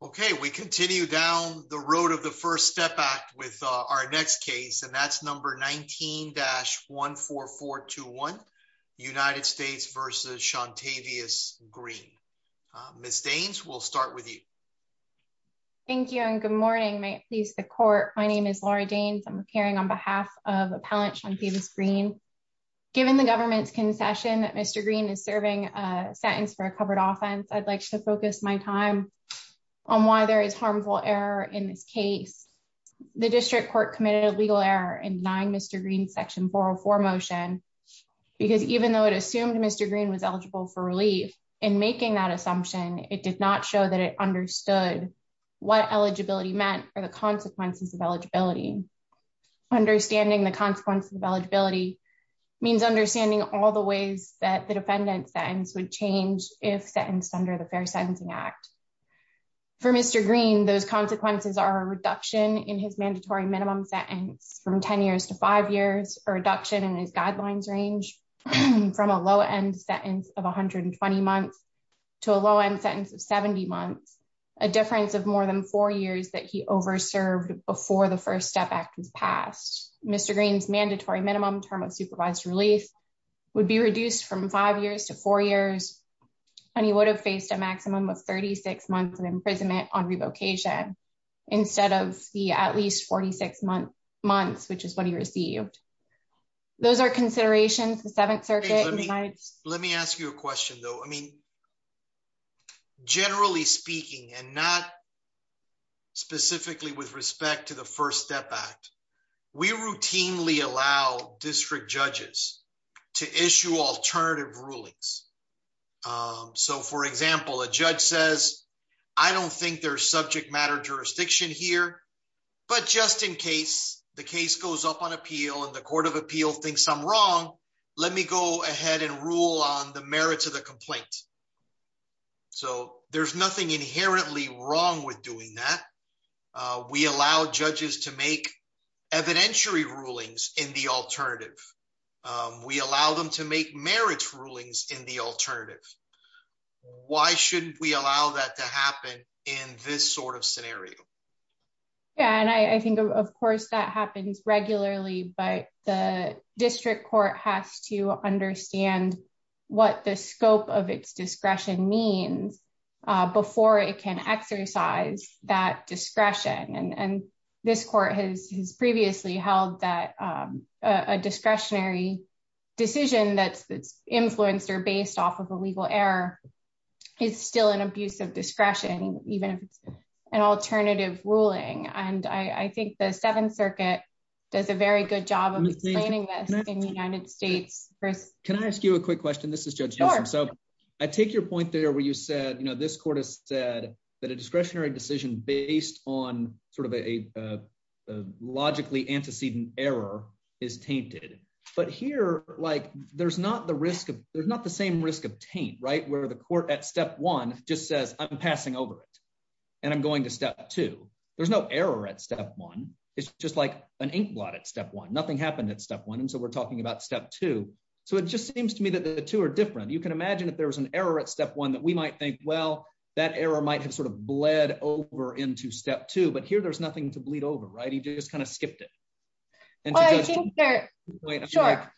Okay, we continue down the road of the First Step Act with our next case, and that's number 19-14421, United States v. Shawntavis Green. Ms. Daines, we'll start with you. Thank you and good morning. May it please the Court, my name is Laura Daines. I'm appearing on behalf of Appellant Shawntavis Green. Given the government's concession that Mr. Green is serving a sentence for a covered offense, I'd like to focus my time on why there is harmful error in this case. The District Court committed a legal error in denying Mr. Green's Section 404 motion, because even though it assumed Mr. Green was eligible for relief, in making that assumption, it did not show that it understood what eligibility meant or the consequences of eligibility. Understanding the consequences of eligibility means understanding all the ways that the defendant's sentence would change if sentenced under the Fair Sentencing Act. For Mr. Green, those consequences are a reduction in his mandatory minimum sentence from 10 years to 5 years, a reduction in his guidelines range from a low-end sentence of 120 months to a low-end sentence of 70 months, a difference of more than 4 years that he over-served before the First Step Act was passed. Mr. Green's mandatory minimum term of supervised relief would be reduced from 5 years to 4 years, and he would have faced a maximum of 36 months of imprisonment on revocation, instead of the at least 46 months, which is what he received. Those are considerations of the Seventh Circuit. When the Court of Appeal thinks I'm wrong, let me go ahead and rule on the merits of the complaint. So, there's nothing inherently wrong with doing that. We allow judges to make evidentiary rulings in the alternative. We allow them to make merits rulings in the alternative. Why shouldn't we allow that to happen in this sort of scenario? Yeah, and I think, of course, that happens regularly, but the district court has to understand what the scope of its discretion means before it can exercise that discretion. And this court has previously held that a discretionary decision that's influenced or based off of a legal error is still an abuse of discretion, even if it's an alternative ruling. And I think the Seventh Circuit does a very good job of explaining this in the United States. Can I ask you a quick question? This is Judge Nelson. So, I take your point there where you said, you know, this court has said that a discretionary decision based on sort of a logically antecedent error is tainted. But here, like, there's not the same risk of taint, right, where the court at step one just says, I'm passing over it, and I'm going to step two. There's no error at step one. It's just like an inkblot at step one. Nothing happened at step one, and so we're talking about step two. So it just seems to me that the two are different. You can imagine if there was an error at step one that we might think, well, that error might have sort of bled over into step two, but here there's nothing to bleed over, right? He just kind of skipped it. Well, I think that, sure.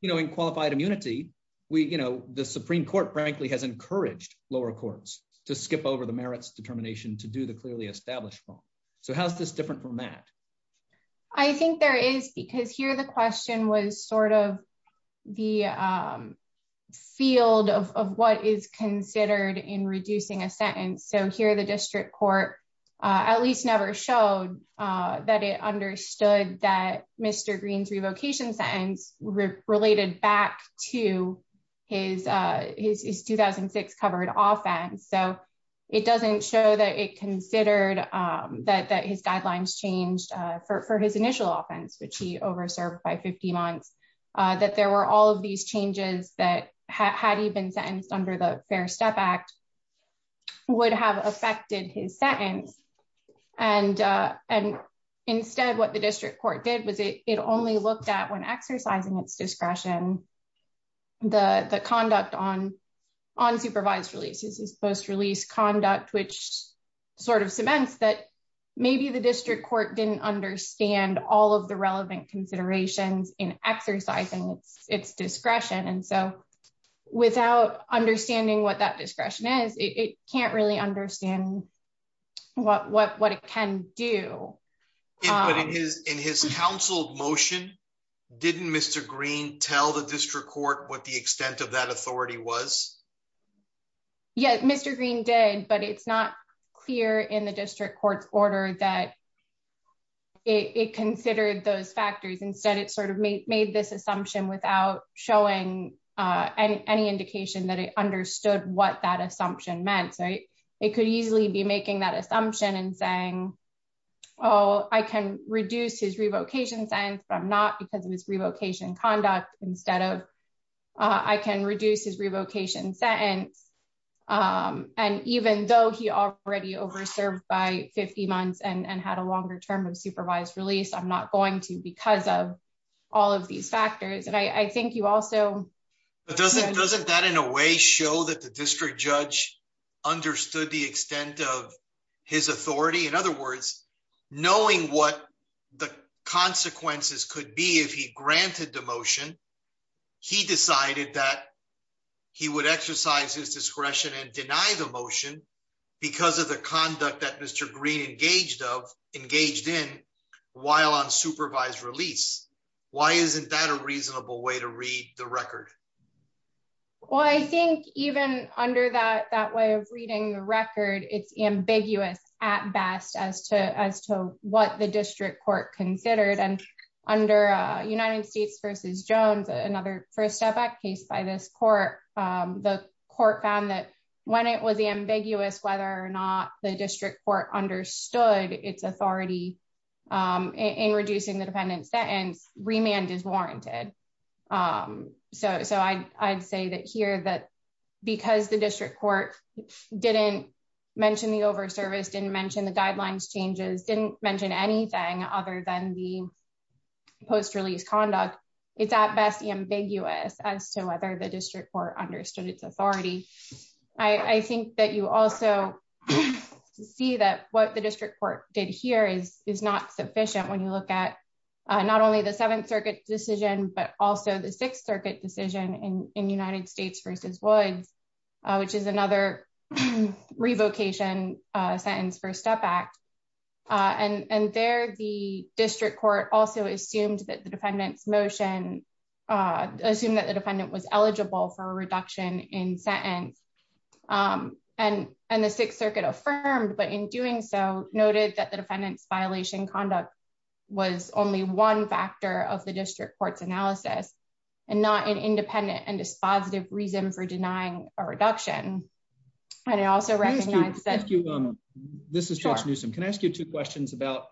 You know, in qualified immunity, we, you know, the Supreme Court, frankly, has encouraged lower courts to skip over the merits determination to do the clearly established form. So how's this different from that? I think there is, because here the question was sort of the field of what is considered in reducing a sentence. So here the district court at least never showed that it understood that Mr. Green's revocation sentence related back to his 2006 covered offense. So it doesn't show that it considered that his guidelines changed for his initial offense, which he over served by 50 months, that there were all of these changes that had he been sentenced under the Fair Step Act would have affected his sentence. And, and instead what the district court did was it only looked at when exercising its discretion, the conduct on unsupervised releases is post release conduct which sort of cements that maybe the district court didn't understand all of the relevant considerations in exercising its discretion and so without understanding what that discretion is, it can't really understand what what what it can do is in his counsel motion. Didn't Mr. Green tell the district court what the extent of that authority was. Yeah, Mr. Green did but it's not clear in the district court's order that it considered those factors instead it sort of made this assumption without showing any indication that it understood what that assumption meant right, it could easily be making that sentence. And even though he already over served by 50 months and had a longer term of supervised release I'm not going to because of all of these factors and I think you also doesn't doesn't that in a way show that the district judge understood the extent of his authority in other words, knowing what the consequences could be if he granted the motion. He decided that he would exercise his discretion and deny the motion because of the conduct that Mr. Green engaged of engaged in while on supervised release. Why isn't that a reasonable way to read the record. Well, I think, even under that that way of reading the record it's ambiguous at best as to as to what the district court considered and under United States versus Jones, another first step back case by this court. The court found that when it was the ambiguous whether or not the district court understood its authority in reducing the dependence that and remand is warranted. So I'd say that here that because the district court didn't mention the over service didn't mention the guidelines changes didn't mention anything other than the post release conduct. It's at best the ambiguous as to whether the district court understood its authority. I think that you also see that what the district court did here is is not sufficient when you look at not only the Seventh Circuit decision but also the Sixth Circuit decision in the United States versus Lloyd's, which is another revocation sentence for step back. And there the district court also assumed that the defendants motion. Assume that the defendant was eligible for a reduction in sentence. And, and the Sixth Circuit affirmed but in doing so, noted that the defendants violation conduct was only one factor of the district courts analysis and not an independent and dispositive reason for denying a reduction. And I also recognize that you. This is Josh Newsome Can I ask you two questions about,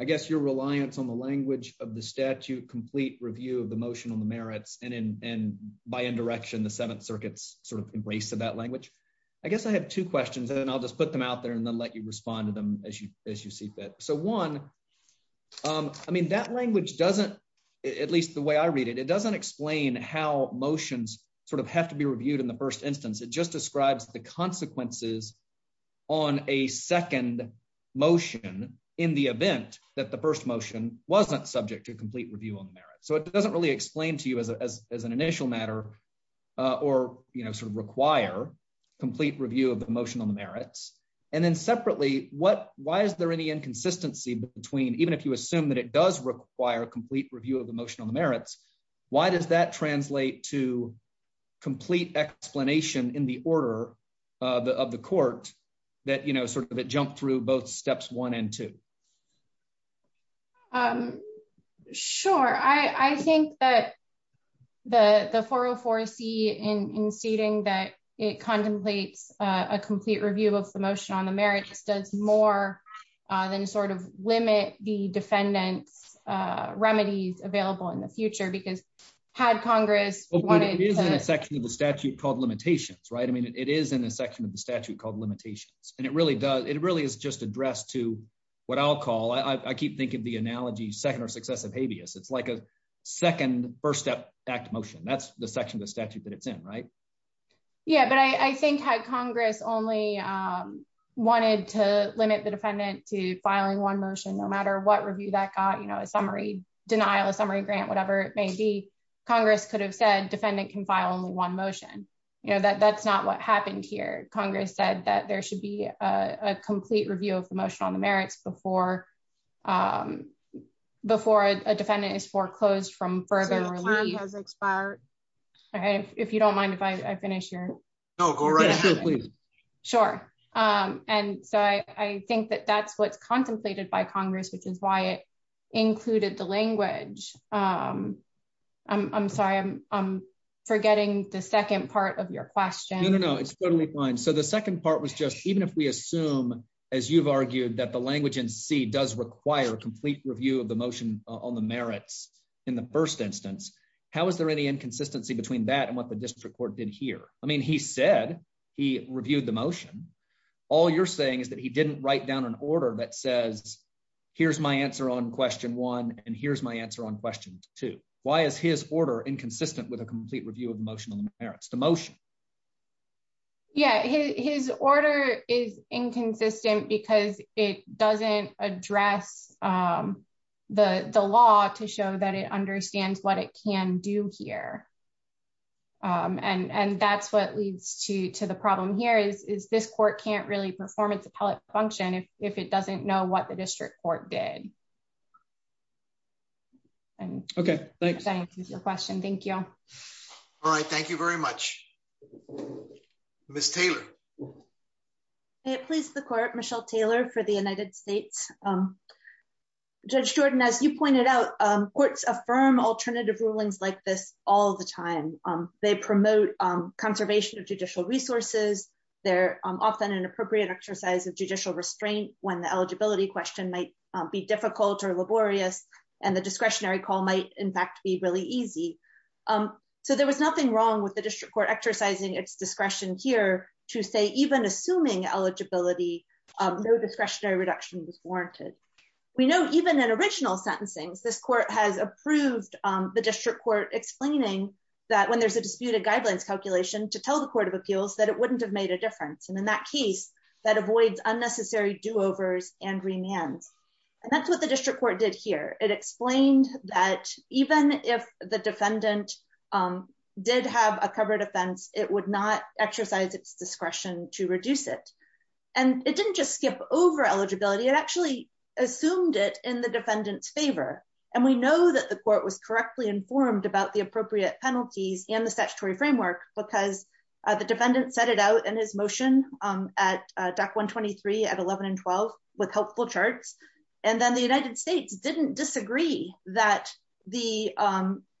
I guess your reliance on the language of the statute complete review of the motion on the merits and and by indirection the Seventh Circuit's sort of embrace of that language. I guess I have two questions and I'll just put them out there and then let you respond to them as you as you see fit. So one. I mean that language doesn't, at least the way I read it, it doesn't explain how motions, sort of have to be reviewed in the first instance it just describes the consequences on a second motion in the event that the first motion wasn't subject to complete review on the merits so it doesn't really explain to you as an initial matter, or, you know, sort of require complete review of the motion on the merits, and then separately, what, why is there any inconsistency between even if you assume that it does require a complete review of the motion on the merits. Why does that translate to complete explanation in the order of the court that you know sort of a jump through both steps one and two. I'm sure I think that the the 404 C in stating that it contemplates a complete review of the motion on the merits does more than sort of limit the defendants remedies available in the future because had Congress wanted a section of the statute called second or successive habeas it's like a second first step back motion that's the section of the statute that it's in right. Yeah, but I think how Congress only wanted to limit the defendant to filing one motion no matter what review that got you know a summary denial of summary grant whatever it may be, Congress could have said defendant can file only one motion, you know that that's not what happened here, Congress said that there should be a complete review of the motion on the merits before before a defendant is foreclosed from further has expired. If you don't mind if I finish here. Oh, go right ahead, please. Sure. And so I think that that's what's contemplated by Congress, which is why it included the language. I'm sorry I'm forgetting the second part of your question. No, it's totally fine. So the second part was just even if we assume, as you've argued that the language and see does require a complete review of the motion on the merits. In the first instance, how is there any inconsistency between that and what the district court did here, I mean he said he reviewed the motion. All you're saying is that he didn't write down an order that says, here's my answer on question one, and here's my answer on question two, why is his order inconsistent with a complete review of emotional parents to motion. Yeah, his order is inconsistent because it doesn't address the the law to show that it understands what it can do here. And and that's what leads to to the problem here is is this court can't really performance appellate function if it doesn't know what the district court did. Okay, thanks. I appreciate your question. Thank you. All right, thank you very much. Miss Taylor. Please the court Michelle Taylor for the United States. Judge Jordan as you pointed out, courts affirm alternative rulings like this all the time. They promote conservation of judicial resources, they're often an appropriate exercise of judicial restraint, when the eligibility question might be difficult or laborious, and the discretionary call might in fact be really easy. So there was nothing wrong with the district court exercising its discretion here to say even assuming eligibility discretionary reduction was warranted. We know even an original sentencing this court has approved the district court explaining that when there's a disputed guidelines calculation to tell the Court of Appeals that it wouldn't have made a difference and in that case, that avoids unnecessary do overs and remands. And that's what the district court did here, it explained that even if the defendant did have a covered offense, it would not exercise its discretion to reduce it. And it didn't just skip over eligibility it actually assumed it in the defendant's favor. And we know that the court was correctly informed about the appropriate penalties in the statutory framework, because the defendant set it out in his motion at deck 123 at 11 and 12 with helpful charts. And then the United States didn't disagree that the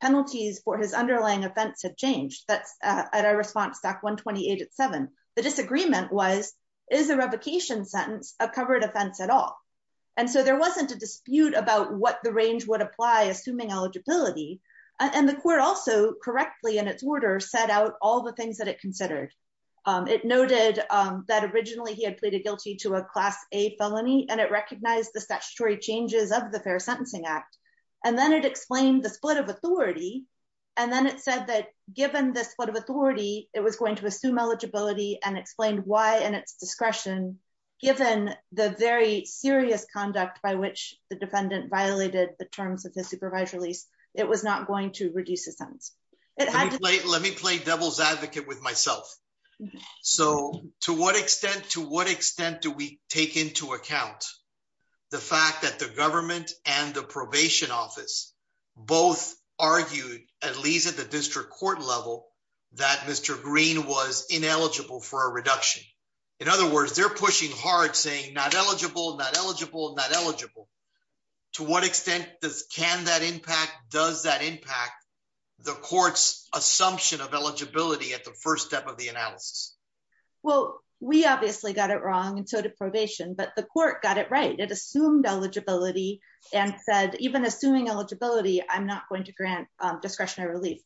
penalties for his underlying offense have changed that's at our response that 128 at seven, the disagreement was is a revocation sentence of covered offense at all. And so there wasn't a dispute about what the range would apply assuming eligibility, and the court also correctly in its order set out all the things that it considered it noted that originally he had pleaded guilty to a class, a felony and it recognized the statutory changes of the Fair Sentencing Act, and then it explained the split of authority. And then it said that, given this what have authority, it was going to assume eligibility and explained why and its discretion, given the very serious conduct by which the defendant violated the terms of the supervisory lease, it was not going to reduce the sentence. It had to play let me play devil's advocate with myself. So, to what extent to what extent do we take into account the fact that the government and the probation office, both argued, at least at the district court level that Mr. Green was ineligible for a reduction. In other words, they're pushing hard saying not eligible not eligible not eligible. To what extent does can that impact does that impact the courts assumption of eligibility at the first step of the analysis. Well, we obviously got it wrong and so to probation but the court got it right it assumed eligibility, and said, even assuming eligibility, I'm not going to grant discretionary relief.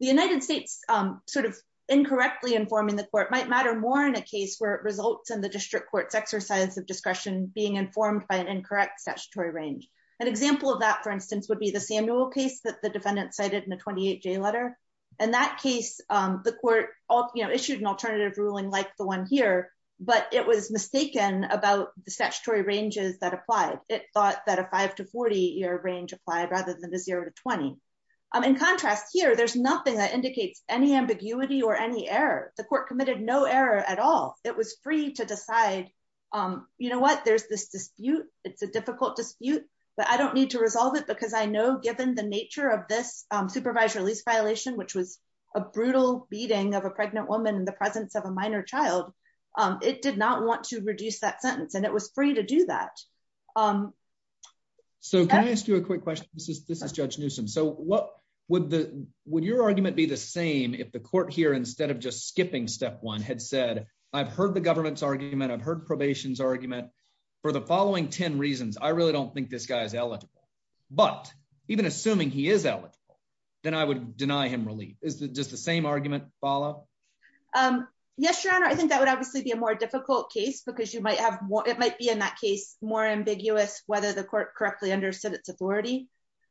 The United States, sort of incorrectly informing the court might matter more in a case where it results in the district courts exercise of discretion being informed by an incorrect statutory range. An example of that, for instance, would be the Samuel case that the defendant cited in the 28 J letter. And that case, the court issued an alternative ruling like the one here, but it was mistaken about the statutory ranges that applied, it thought that a But I don't need to resolve it because I know given the nature of this supervisor lease violation which was a brutal beating of a pregnant woman in the presence of a minor child. It did not want to reduce that sentence and it was free to do that. So can I ask you a quick question. This is this is Judge Newsome so what would the, would your argument be the same if the court here instead of just skipping step one had said, I've heard the government's argument I've heard probation's argument for the following 10 reasons I really don't think this guy's eligible, but even assuming he is eligible, then I would deny him relief is just the same argument follow. Yes, Your Honor, I think that would obviously be a more difficult case because you might have more, it might be in that case, more ambiguous, whether the court correctly understood its authority.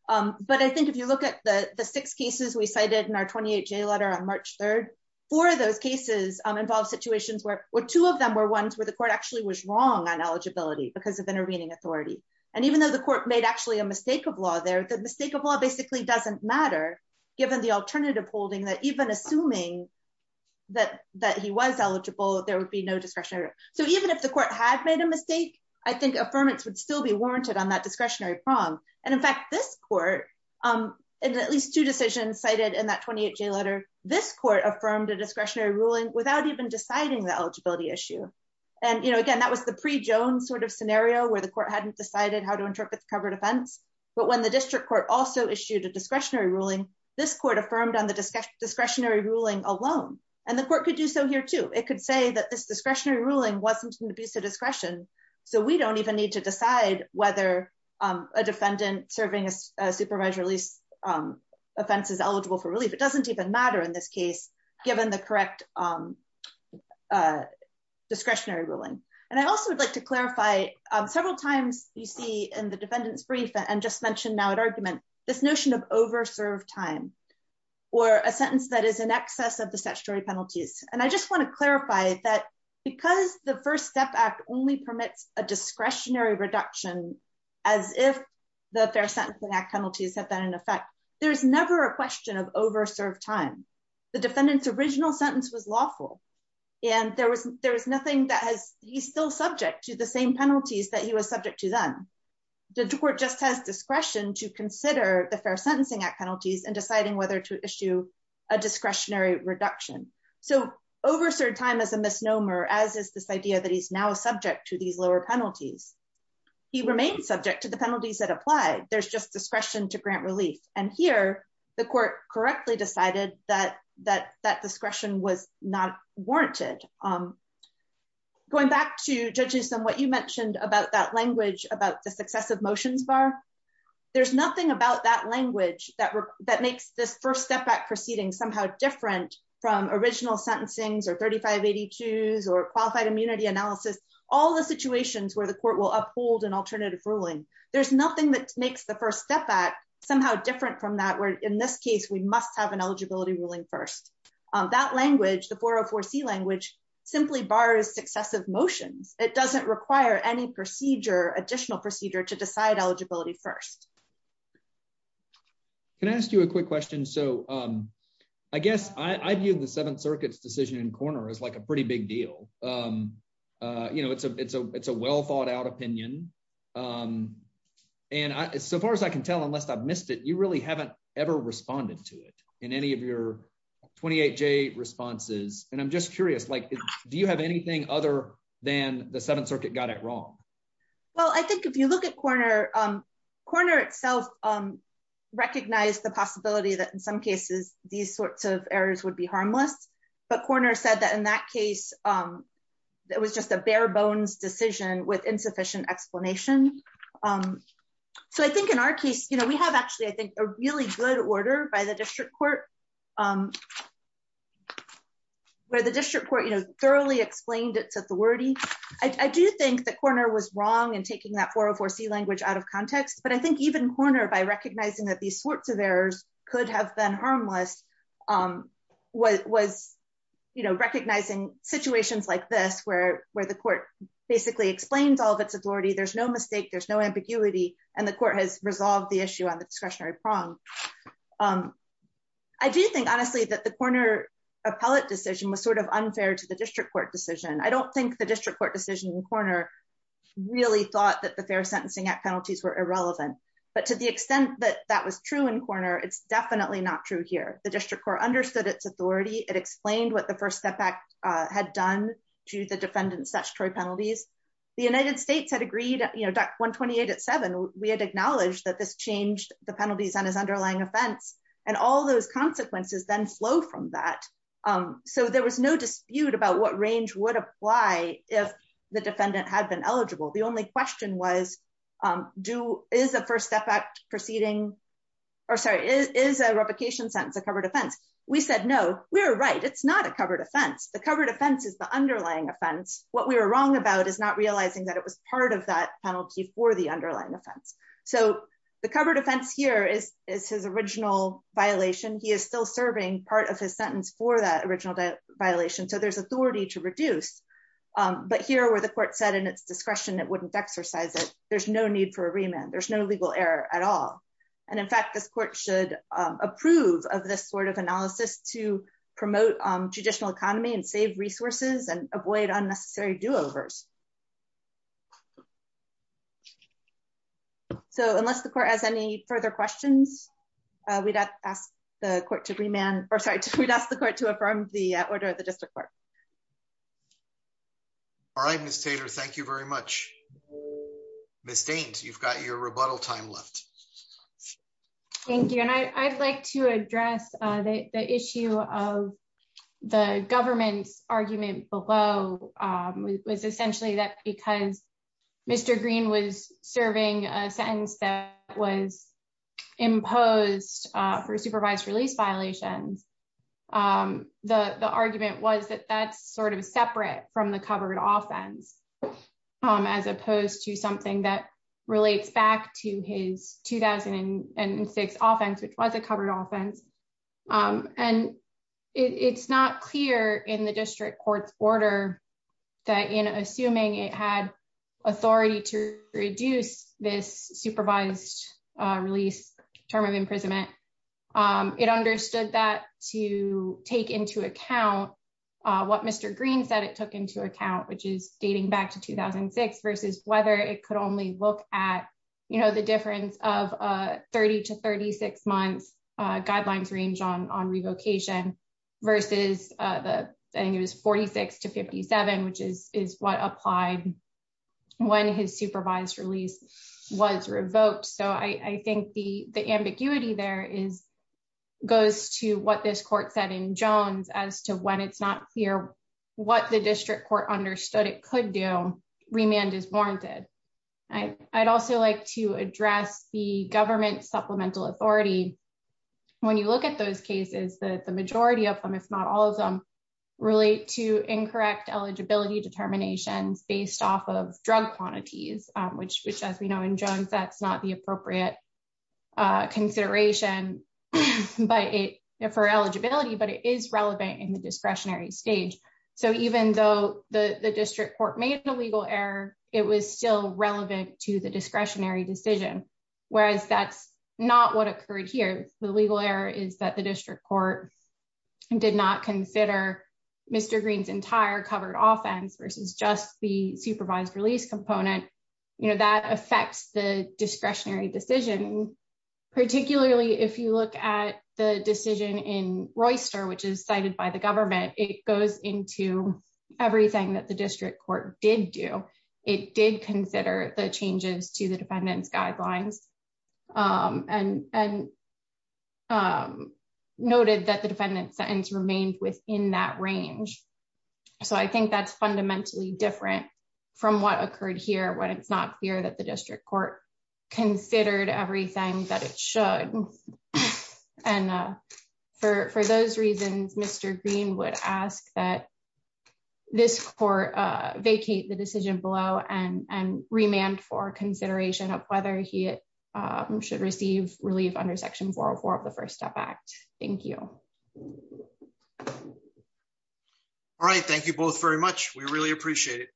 But I think if you look at the six cases we cited in our 28 J letter on March 3, four of those cases involve situations where, where two of them were ones where the court actually was wrong on eligibility because of intervening authority. And even though the court made actually a mistake of law there the mistake of law basically doesn't matter, given the alternative holding that even assuming that that he was eligible, there would be no discretionary. So even if the court had made a mistake. I think affirmance would still be warranted on that discretionary prong. And in fact this court. At least two decisions cited in that 28 J letter, this court affirmed a discretionary ruling without even deciding the eligibility issue. And you know again that was the pre Jones sort of scenario where the court hadn't decided how to interpret the covered offense, but when the district court also issued a discretionary ruling, this court affirmed on the discussion discretionary ruling alone, and the court could do so here too. It could say that this discretionary ruling wasn't an abuse of discretion. So we don't even need to decide whether a defendant serving a supervised release offenses eligible for relief, it doesn't even matter in this case, given the correct discretionary ruling. And I also would like to clarify, several times, you see in the defendant's brief and just mentioned now an argument, this notion of over serve time, or a sentence that is in excess of the statutory penalties, and I just want to clarify that, because the First Step Act only permits a discretionary reduction, as if the Fair Sentencing Act penalties have been in effect, there's never a question of over served time. The defendant's original sentence was lawful. And there was, there was nothing that has, he's still subject to the same penalties that he was subject to them. The court just has discretion to consider the Fair Sentencing Act penalties and deciding whether to issue a discretionary reduction. So, over certain time as a misnomer as is this idea that he's now subject to these lower penalties. He remains subject to the penalties that apply, there's just discretion to grant relief, and here, the court correctly decided that that that discretion was not warranted. Going back to judges and what you mentioned about that language about the successive motions bar. There's nothing about that language that that makes this First Step Act proceeding somehow different from original sentencings or 3582s or qualified immunity analysis, all the situations where the court will uphold an alternative ruling. There's nothing that makes the First Step Act, somehow different from that where in this case we must have an eligibility ruling first. That language, the 404C language, simply bars successive motions, it doesn't require any procedure additional procedure to decide eligibility first. Can I ask you a quick question. So, um, I guess I view the Seventh Circuit's decision in corner is like a pretty big deal. You know it's a it's a it's a well thought out opinion. And so far as I can tell, unless I've missed it you really haven't ever responded to it in any of your 28J responses, and I'm just curious like, do you have anything other than the Seventh Circuit got it wrong. Well, I think if you look at corner corner itself, recognize the possibility that in some cases, these sorts of errors would be harmless, but corner said that in that case, that was just a bare bones decision with insufficient explanation. So I think in our case you know we have actually I think a really good order by the district court, where the district court, you know, thoroughly explained its authority. I do think the corner was wrong and taking that 404C language out of context but I think even corner by recognizing that these sorts of errors could have been harmless. What was, you know, recognizing situations like this where, where the court basically explains all of its authority there's no mistake there's no ambiguity, and the court has resolved the issue on the discretionary prong. I do think honestly that the corner appellate decision was sort of unfair to the district court decision I don't think the district court decision in corner, really thought that the Fair Sentencing Act penalties were irrelevant, but to the extent that that was true in corner it's definitely not true here, the district court understood its authority, it explained what the First Step Act had done to the defendant statutory penalties. The United States had agreed, you know, that 128 at seven, we had acknowledged that this changed the penalties on his underlying offense, and all those consequences then flow from that. So there was no dispute about what range would apply, if the defendant had been eligible. The only question was, do, is the First Step Act proceeding. Or sorry is a replication sentence a covered offense. We said no, we're right it's not a covered offense the covered offense is the underlying offense, what we were wrong about is not realizing that it was part of that penalty for the underlying offense. So, the covered offense here is, is his original violation he is still serving part of his sentence for that original violation so there's authority to reduce. But here where the court said in its discretion it wouldn't exercise it, there's no need for a remand there's no legal error at all. And in fact this court should approve of this sort of analysis to promote traditional economy and save resources and avoid unnecessary do overs. So unless the court has any further questions, we'd ask the court to remand, or sorry, we'd ask the court to affirm the order of the district court. All right, Mr. Thank you very much. Miss Dane, you've got your rebuttal time left. Thank you and I'd like to address the issue of the government's argument below was essentially that because Mr. Green was serving a sentence that was imposed for supervised release violations. The, the argument was that that's sort of separate from the covered offense, as opposed to something that relates back to his 2006 offense which was a covered offense. And it's not clear in the district court's order that in assuming it had authority to reduce this supervised release term of imprisonment. It understood that to take into account what Mr. Green said it took into account which is dating back to 2006 versus whether it could only look at, you know, the difference of 30 to 36 months guidelines range on on revocation versus the, I think it was 46 to 57 which is is what applied. When his supervised release was revoked so I think the the ambiguity there is goes to what this court said in Jones as to when it's not clear what the district court understood it could do remand is warranted. I'd also like to address the government supplemental authority. When you look at those cases that the majority of them if not all of them relate to incorrect eligibility determinations based off of drug quantities, which which as we know in Jones that's not the appropriate consideration. But it for eligibility but it is relevant in the discretionary stage. So even though the district court made the legal error, it was still relevant to the discretionary decision, whereas that's not what occurred here, the legal error is that the if you look at the decision in Royster which is cited by the government, it goes into everything that the district court did do it did consider the changes to the defendants guidelines and and noted that the defendant sentence remained within that range. So I think that's fundamentally different from what occurred here when it's not clear that the district court considered everything that it should. And for those reasons, Mr. Green would ask that this court vacate the decision below and and remand for consideration of whether he should receive relief under Section 404 of the First Step Act. Thank you. All right, thank you both very much. We really appreciate it. All right.